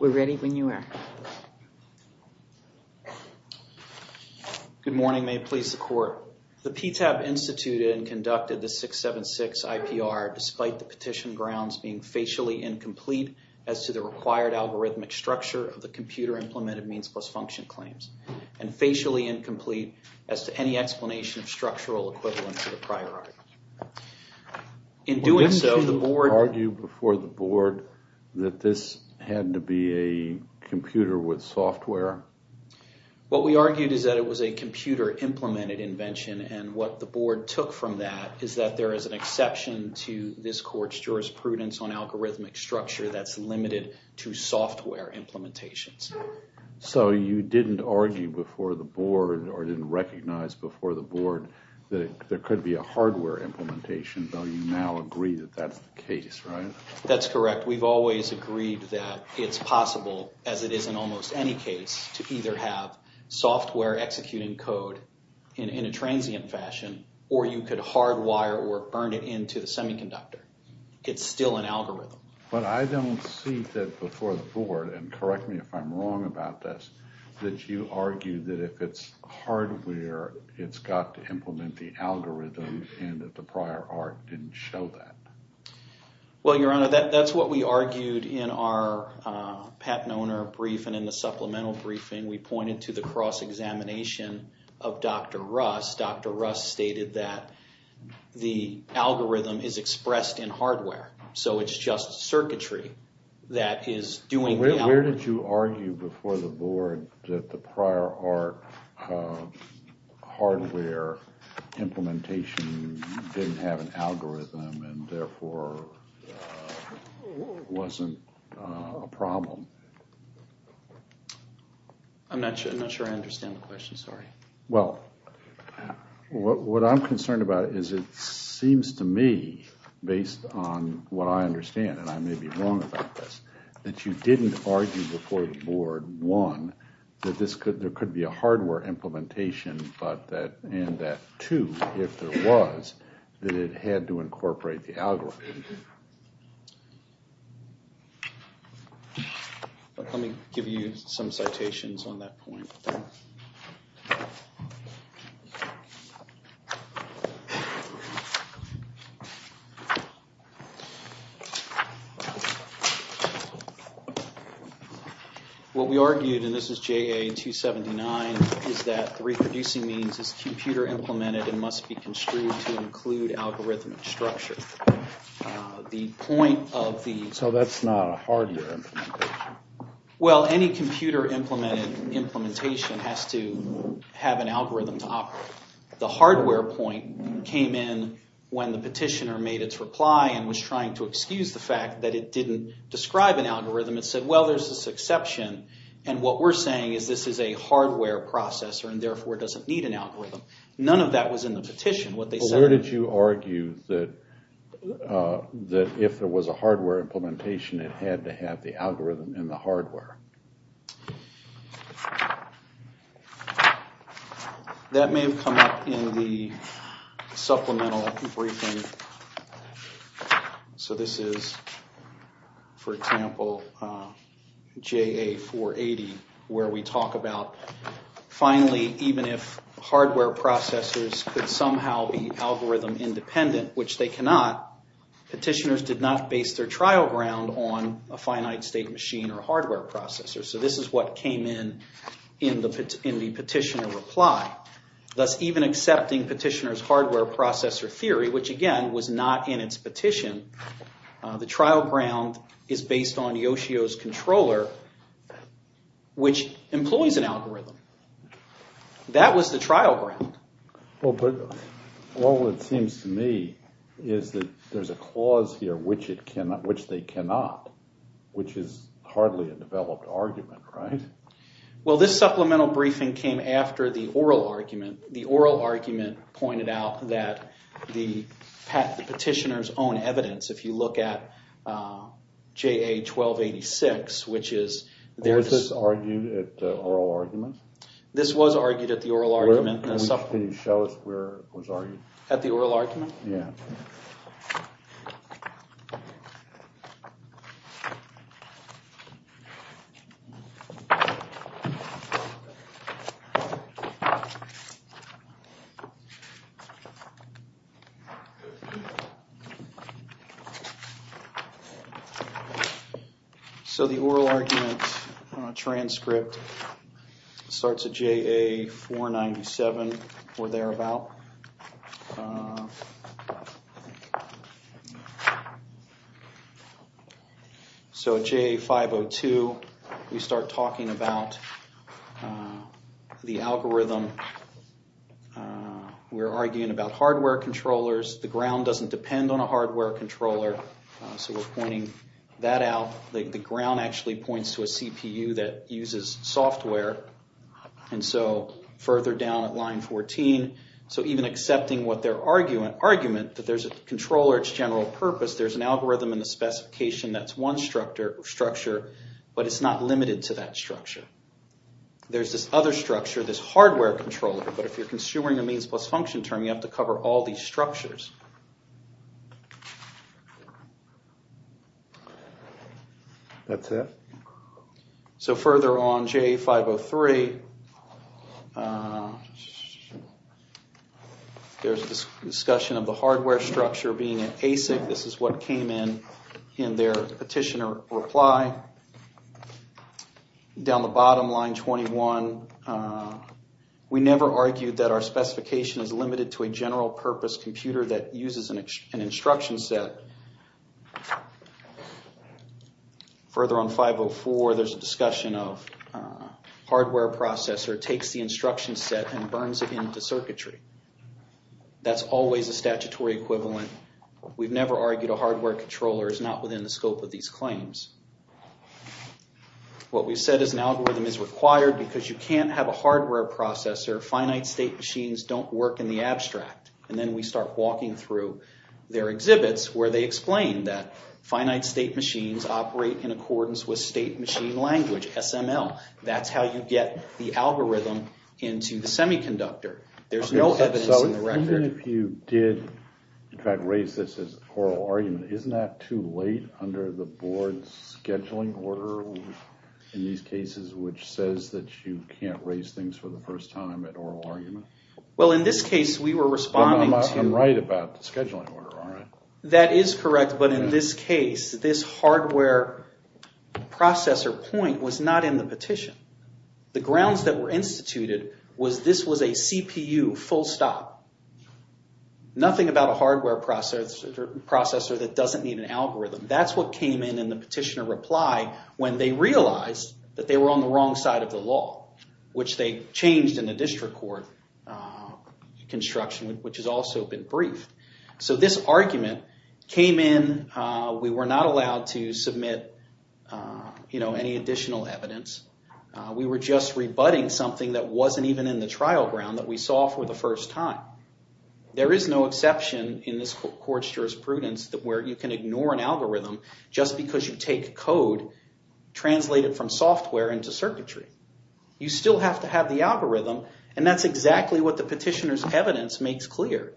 We're ready when you are. Good morning, may it please the court. The PTAB instituted and conducted the 676 IPR despite the petition grounds being facially incomplete as to the required algorithmic structure of the computer implemented means plus function claims and facially incomplete as to any explanation of structural equivalent to the prior argument. In doing so, the board argued before the board that this had to be a computer with software. What we argued is that it was a computer implemented invention and what the board took from that is that there is an exception to this court's jurisprudence on algorithmic structure that's limited to software implementations. So you didn't argue before the board or didn't recognize before the board that there could be a hardware implementation, though you now agree that that's the case, right? That's correct. We've always agreed that it's possible, as it is in almost any case, to either have software executing code in a transient fashion or you could hardwire or burn it into the semiconductor. It's still an algorithm. But I don't see that before the board, and correct me if I'm wrong about this, that you argue that if it's hardware, it's got to implement the algorithm and that the prior art didn't show that. Well, Your Honor, that's what we argued in our Pat Noner brief and in the supplemental briefing. We pointed to the cross-examination of Dr. Russ. Dr. Russ stated that the algorithm is expressed in hardware, so it's just circuitry that is doing the algorithm. Where did you argue before the board that the prior art hardware implementation didn't have an algorithm and therefore wasn't a problem? I'm not sure I understand the question, sorry. Well, what I'm concerned about is it seems to me, based on what I understand, and I may be wrong about this, that you didn't argue before the board, one, that this could, there could be a hardware implementation, but that, and that two, if there was, that it had to incorporate the algorithm. Let me give you some What we argued, and this is JA-279, is that the reproducing means is computer-implemented and must be construed to include algorithmic structure. The point of the... So that's not a hardware? Well, any computer-implemented implementation has to have an algorithm to operate. The hardware point came in when the petitioner made its reply and was trying to excuse the fact that it didn't describe an exception, and what we're saying is this is a hardware processor and therefore doesn't need an algorithm. None of that was in the petition. Where did you argue that if there was a hardware implementation, it had to have the algorithm in the hardware? That may have come from JA-480, where we talk about finally, even if hardware processors could somehow be algorithm independent, which they cannot, petitioners did not base their trial ground on a finite state machine or hardware processor. So this is what came in in the petitioner reply. Thus, even accepting petitioner's hardware processor theory, which again was not in its petition, the trial ground is based on Yoshio's controller, which employs an algorithm. That was the trial ground. Well, but all it seems to me is that there's a clause here which they cannot, which is hardly a developed argument, right? Well, this supplemental briefing came after the oral argument. The oral argument pointed out that the petitioner's own evidence, if you look at JA-1286, which is... Was this argued at the oral argument? This was argued at the oral argument. Can you show us where it was argued? At the oral argument? Yeah. So the oral argument transcript starts at JA-497 or thereabout. So at JA-502, we start talking about the algorithm. We're arguing about hardware controllers. The ground doesn't depend on a hardware controller, so we're pointing that out. The ground actually points to a CPU that uses software, and so further down at line 14. So even accepting what their argument, that there's a controller, its general purpose, there's an algorithm in the specification that's one structure, but it's not limited to that structure. There's this other structure, this hardware controller, but if you're consuming a means-plus-function term, you have to cover all these structures. That's it. So further on, JA-503, there's a discussion of the hardware structure being an ASIC. This is what came in in their petitioner reply. Down the bottom, line 21, we never argued that our specification is limited to a general-purpose computer that uses an instruction set. Further on, 504, there's a discussion of hardware processor takes the instruction set and burns it into circuitry. That's always a statutory equivalent we've never argued a hardware controller is not within the scope of these claims. What we've said is an algorithm is required because you can't have a hardware processor. Finite-state machines don't work in the abstract, and then we start walking through their exhibits where they explain that finite-state machines operate in accordance with state machine language, SML. That's how you get the algorithm into the semiconductor. There's no evidence in the record. Even if you did, in fact, raise this as an oral argument, isn't that too late under the board's scheduling order in these cases, which says that you can't raise things for the first time at oral argument? Well, in this case, we were responding to... I'm right about the scheduling order, aren't I? That is correct, but in this case, this hardware processor point was not in the petition. The grounds that were instituted was this was a CPU full stop. Nothing about a hardware processor that doesn't need an algorithm. That's what came in in the petitioner reply when they realized that they were on the wrong side of the law, which they changed in the district court construction, which has also been briefed. So this argument came in. We were not allowed to submit any additional evidence. We were just rebutting something that wasn't even in the trial ground that we saw for the first time. There is no exception in this court's jurisprudence that where you can ignore an algorithm just because you take code, translate it from software into circuitry. You still have to have the algorithm, and that's exactly what the petitioner's evidence makes clear.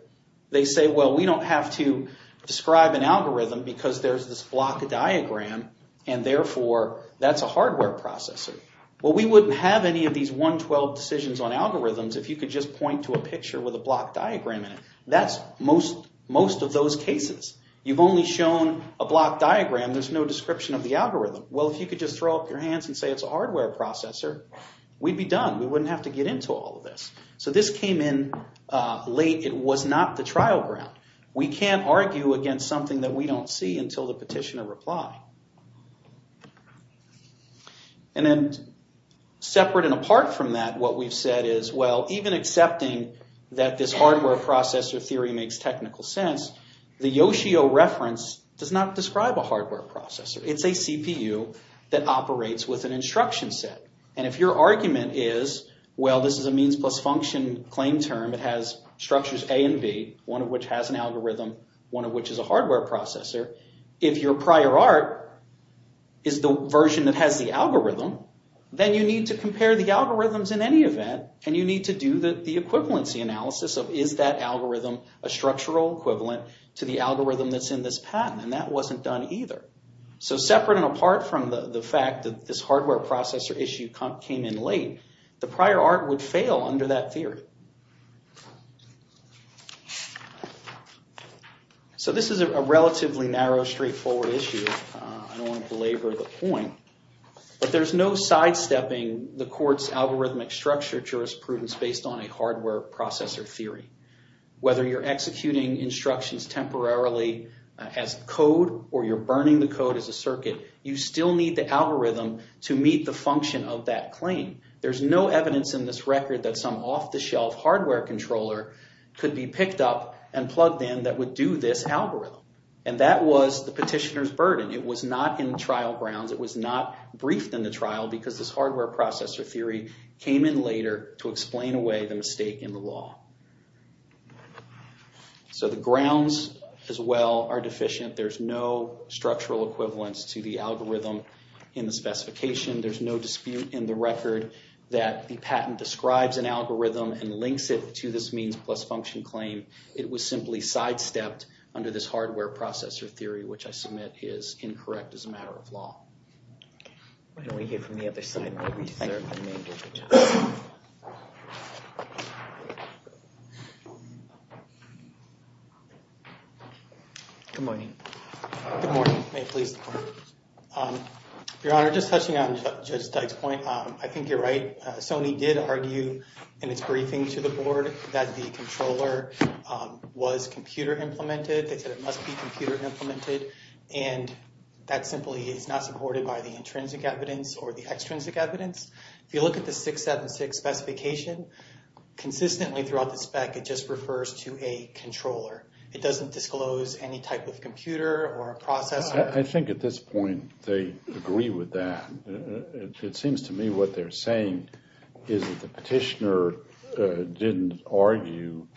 They say, well, we don't have to describe an algorithm because there's this block diagram, and therefore that's a hardware processor. Well, we wouldn't have any of these 112 decisions on algorithms if you could just point to a picture with a block diagram in it. That's most of those cases. You've only shown a block diagram. There's no description of the algorithm. Well, if you could just throw up your hands and say it's a hardware processor, we'd be done. We wouldn't have to get into all of this. So this came in late. It was not the trial ground. We can't argue against something that we don't see until the petitioner replied. And then separate and apart from that, what we've said is, well, even accepting that this hardware processor theory makes technical sense, the Yoshio reference does not describe a hardware processor. It's a CPU that operates with an instruction set, and if your argument is, well, this is a means plus function claim term. It has an algorithm, one of which is a hardware processor. If your prior art is the version that has the algorithm, then you need to compare the algorithms in any event, and you need to do the equivalency analysis of is that algorithm a structural equivalent to the algorithm that's in this patent, and that wasn't done either. So separate and apart from the fact that this hardware processor issue came in So this is a relatively narrow, straightforward issue. I don't want to belabor the point, but there's no sidestepping the court's algorithmic structure jurisprudence based on a hardware processor theory. Whether you're executing instructions temporarily as code, or you're burning the code as a circuit, you still need the algorithm to meet the function of that claim. There's no evidence in this record that some off-the-shelf hardware controller could be picked up and plugged in that would do this algorithm, and that was the petitioner's burden. It was not in trial grounds. It was not briefed in the trial because this hardware processor theory came in later to explain away the mistake in the law. So the grounds, as well, are deficient. There's no structural equivalence to the algorithm in the specification. There's no dispute in the record that the patent describes an algorithm and links it to this means-plus-function claim. It was simply sidestepped under this hardware processor theory, which I submit is incorrect as a matter of law. Why don't we hear from the other side? Good morning. Good morning. May it please the court. Your Honor, just touching on Judge Dyke's point, I think you're right. Sony did argue in its briefing to the board that the controller was computer-implemented. They said it must be computer-implemented, and that simply is not supported by the intrinsic evidence or the extrinsic evidence. If you look at the 676 specification, consistently throughout the spec, it just refers to a controller. It doesn't disclose any type of computer or processor. I think at this point they agree with that. It seems to me what they're saying is that the petitioner didn't argue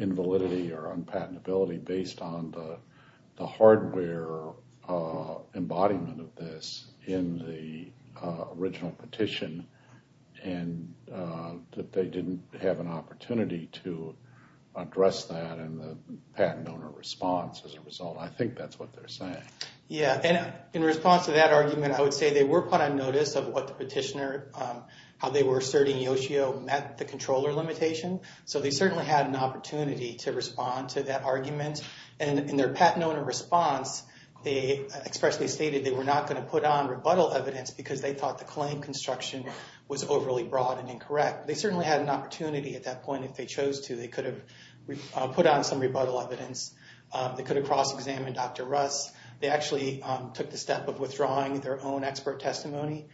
invalidity or unpatentability based on the hardware embodiment of this in the original petition, and that they didn't have an opportunity to address that in the patent owner response as a result. I think that's what they're saying. Yeah, and in response to that argument, I would say they were put on notice of what the petitioner, how they were asserting Yoshio met the controller limitation, so they certainly had an opportunity to respond to that argument. In their patent owner response, they expressly stated they were not going to put on rebuttal evidence because they thought the claim construction was overly broad and incorrect. They certainly had an opportunity at that point if they chose to. They could have put on some rebuttal evidence. They could have cross-examined Dr. Russ. They actually took the step of withdrawing their own expert testimony.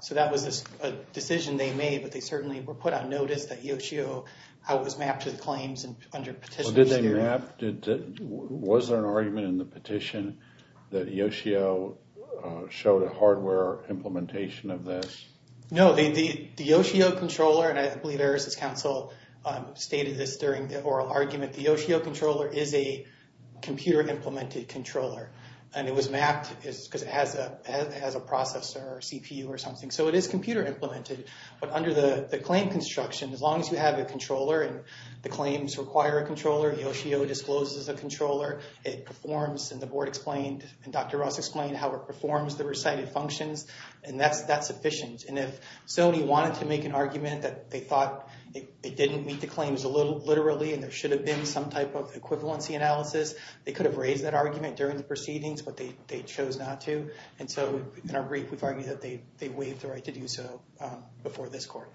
So that was a decision they made, but they certainly were put on notice that Yoshio, how it was mapped to the claims under Petitioner's theory. Did they map? Was there an argument in the petition that Yoshio showed a hardware implementation of this? No, the Yoshio controller, and I believe Eris' counsel stated this during the oral argument, that the Yoshio controller is a computer-implemented controller. And it was mapped because it has a processor or CPU or something. So it is computer-implemented, but under the claim construction, as long as you have a controller and the claims require a controller, Yoshio discloses a controller. It performs, and the board explained, and Dr. Russ explained how it performs the recited functions, and that's sufficient. And if Sony wanted to make an argument that they thought it didn't meet the claims literally and there should have been some type of equivalency analysis, they could have raised that argument during the proceedings, but they chose not to. And so in our brief, we've argued that they waived the right to do so before this court.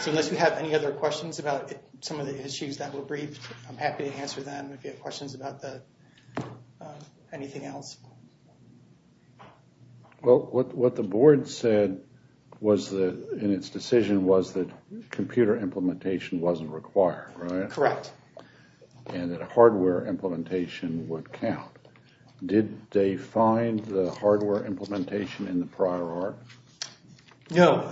So unless you have any other questions about some of the issues that were briefed, I'm happy to answer them if you have questions about anything else. Well, what the board said in its decision was that computer implementation wasn't required, right? Correct. And that a hardware implementation would count. Did they find the hardware implementation in the prior art? No.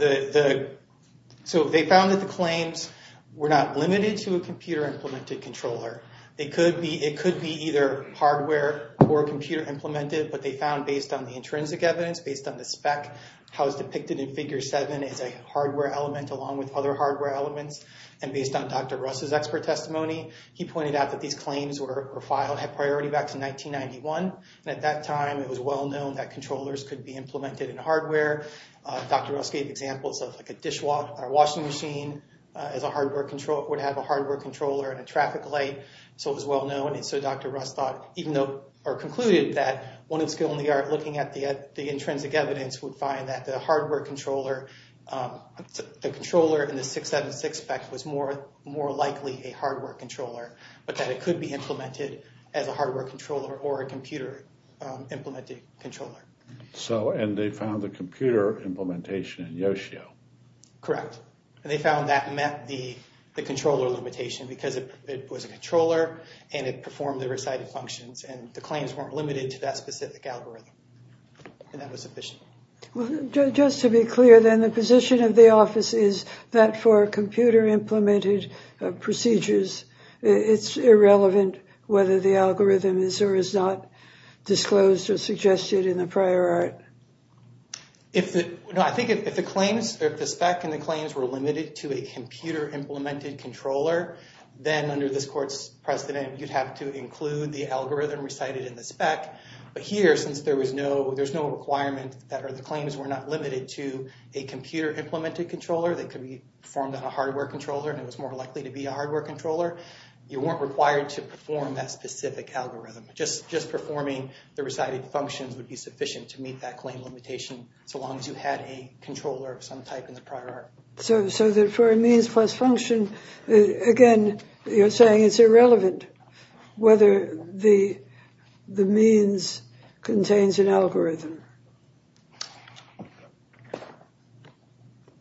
So they found that the claims were not limited to a computer-implemented controller. It could be either hardware or computer-implemented, but they found based on the intrinsic evidence, based on the spec, how it's depicted in Figure 7 as a hardware element along with other hardware elements. And based on Dr. Russ's expert testimony, he pointed out that these claims were filed, had priority back to 1991. And at that time, it was well known that controllers could be implemented in hardware. Dr. Russ gave examples of like a dishwasher, a washing machine, as a hardware controller, would have a hardware controller and a traffic light. So it was well known. And so Dr. Russ thought, even though, or concluded that, when it's still in the art, looking at the intrinsic evidence, would find that the hardware controller, the controller in the 676 spec, was more likely a hardware controller, but that it could be implemented as a hardware controller or a computer-implemented controller. So, and they found the computer implementation in Yoshio. Correct. And they found that met the controller limitation, because it was a controller and it performed the recited functions, and the claims weren't limited to that specific algorithm. And that was sufficient. Well, just to be clear then, the position of the office is that for computer-implemented procedures, it's irrelevant whether the algorithm is or is not disclosed or suggested in the prior art. If the, no, I think if the claims, if the spec and the claims were limited to a computer-implemented controller, then under this court's precedent, you'd have to include the algorithm recited in the spec. But here, since there was no, there's no requirement that, or the claims were not limited to a computer-implemented controller, that could be performed on a hardware controller, and it was more likely to be a hardware controller, you weren't required to perform that specific algorithm. Just performing the recited functions would be sufficient to meet that claim limitation, so long as you had a controller of some type in the prior art. So for a means plus function, again, you're saying it's irrelevant whether the means contains an algorithm.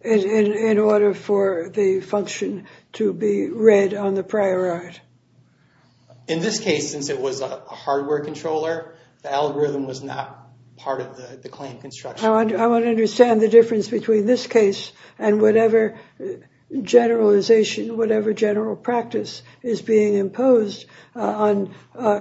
In order for the function to be read on the prior art. In this case, since it was a hardware controller, the algorithm was not part of the claim construction. I want to understand the difference between this case and whatever generalization, whatever general practice is being imposed on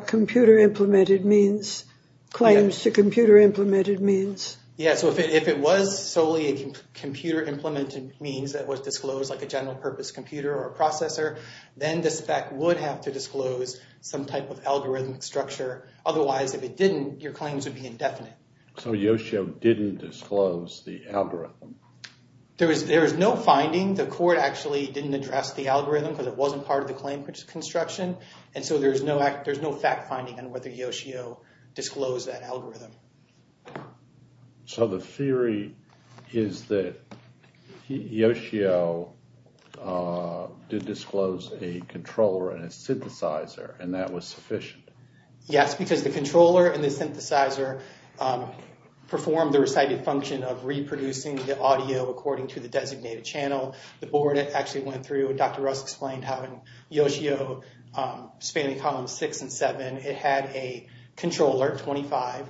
computer-implemented means, claims to computer-implemented means. Yeah, so if it was solely a computer-implemented means that was disclosed like a general-purpose computer or processor, then the spec would have to disclose some type of algorithmic structure. Otherwise, if it didn't, your claims would be indefinite. So Yoshio didn't disclose the algorithm. There is no finding. The court actually didn't address the algorithm, because it wasn't part of the claim construction, and so there's no fact-finding on whether Yoshio disclosed that algorithm. So the theory is that Yoshio did disclose a controller and a synthesizer, and that was sufficient? Yes, because the controller and the synthesizer performed the recited function of reproducing the audio according to the designated channel. The board actually went through, and Dr. Russ explained how in Yoshio, spanning columns 6 and 7, it had a controller, 25,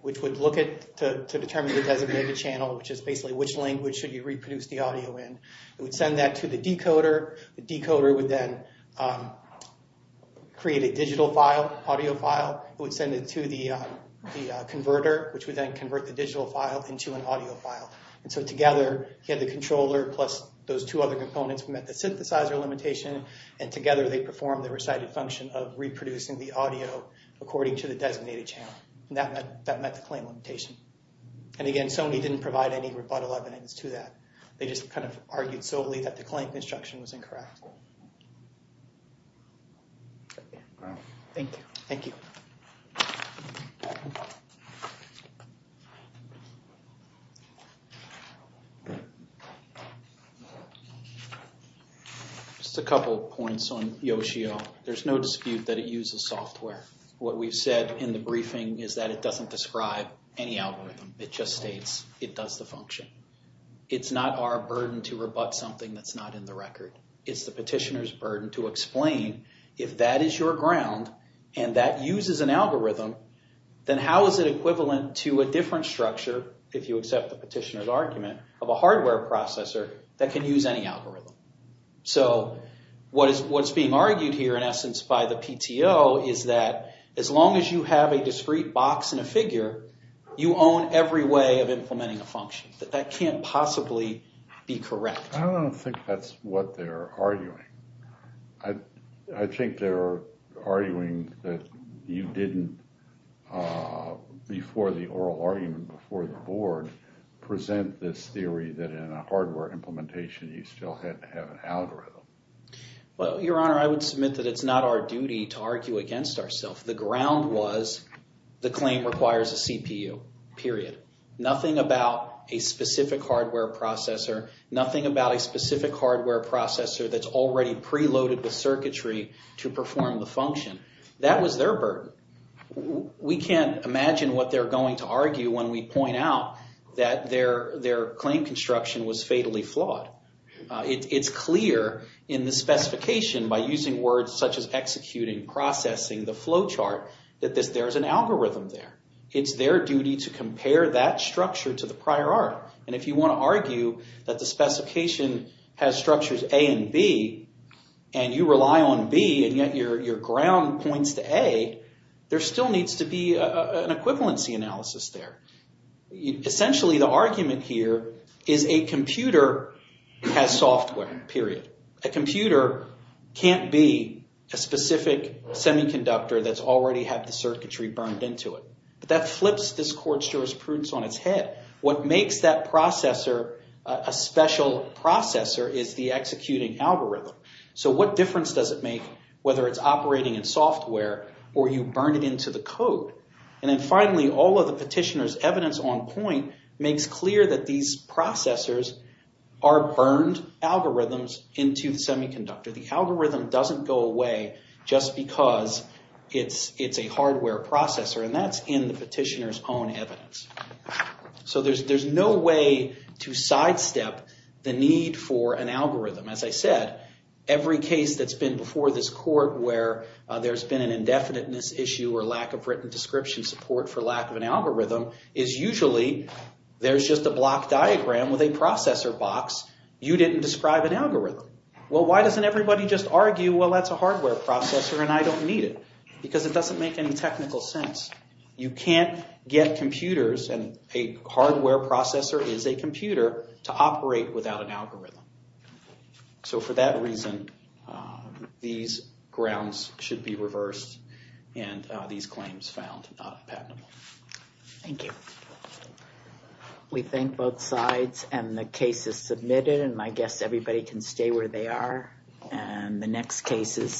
which would look to determine the designated channel, which is basically which language should you reproduce the audio in. It would send that to the decoder. The decoder would then create a digital file, audio file. It would send it to the converter, which would then convert the digital file into an audio file. So together, you had the controller plus those two other components. We met the synthesizer limitation, and together they performed the recited function of reproducing the audio according to the designated channel. That met the claim limitation. And again, Sony didn't provide any rebuttal evidence to that. They just kind of argued solely that the claim construction was incorrect. Thank you. Thank you. Just a couple points on Yoshio. There's no dispute that it uses software. What we've said in the briefing is that it doesn't describe any algorithm. It just states it does the function. It's not our burden to rebut something that's not in the record. It's the petitioner's burden to explain if that is your ground and that uses an algorithm, then how is it equivalent to a different structure, if you accept the petitioner's argument, of a hardware processor that can use any algorithm? So what's being argued here, in essence, by the PTO, is that as long as you have a discrete box and a figure, you own every way of implementing a function. That that can't possibly be correct. I don't think that's what they're arguing. I think they're arguing that you didn't, before the oral argument before the board, present this theory that in a hardware implementation, you still had to have an algorithm. Well, Your Honor, I would submit that it's not our duty to argue against ourselves. The ground was the claim requires a CPU, period. Nothing about a specific hardware processor, nothing about a specific hardware processor that's already preloaded with circuitry to perform the function. That was their burden. We can't imagine what they're going to argue when we point out that their claim construction was fatally flawed. It's clear in the specification by using words such as executing, processing, the flow chart, that there's an algorithm there. It's their duty to compare that structure to the prior art. If you want to argue that the specification has structures A and B, and you rely on B, and yet your ground points to A, there still needs to be an equivalency analysis there. Essentially, the argument here is a computer has software, period. A computer can't be a specific semiconductor that's already had the circuitry burned into it. That flips this court's jurisprudence on its head. What makes that processor a special processor is the executing algorithm. What difference does it make whether it's operating in software, or you burn it into the code? Finally, all of the petitioner's evidence on point makes clear that these processors are burned algorithms into the semiconductor. The algorithm doesn't go away just because it's a hardware processor. That's in the petitioner's own evidence. There's no way to sidestep the need for an algorithm. As I said, every case that's been before this court where there's been an indefiniteness issue or lack of written description support for lack of an algorithm, is usually there's just a block diagram with a processor box. You didn't describe an algorithm. Why doesn't everybody just argue, that's a hardware processor and I don't need it? Because it doesn't make any technical sense. You can't get computers, and a hardware processor is a computer, to operate without an algorithm. So for that reason, these grounds should be reversed and these claims found not patentable. Thank you. We thank both sides and the cases submitted, and I guess everybody can stay where they are. And the next cases...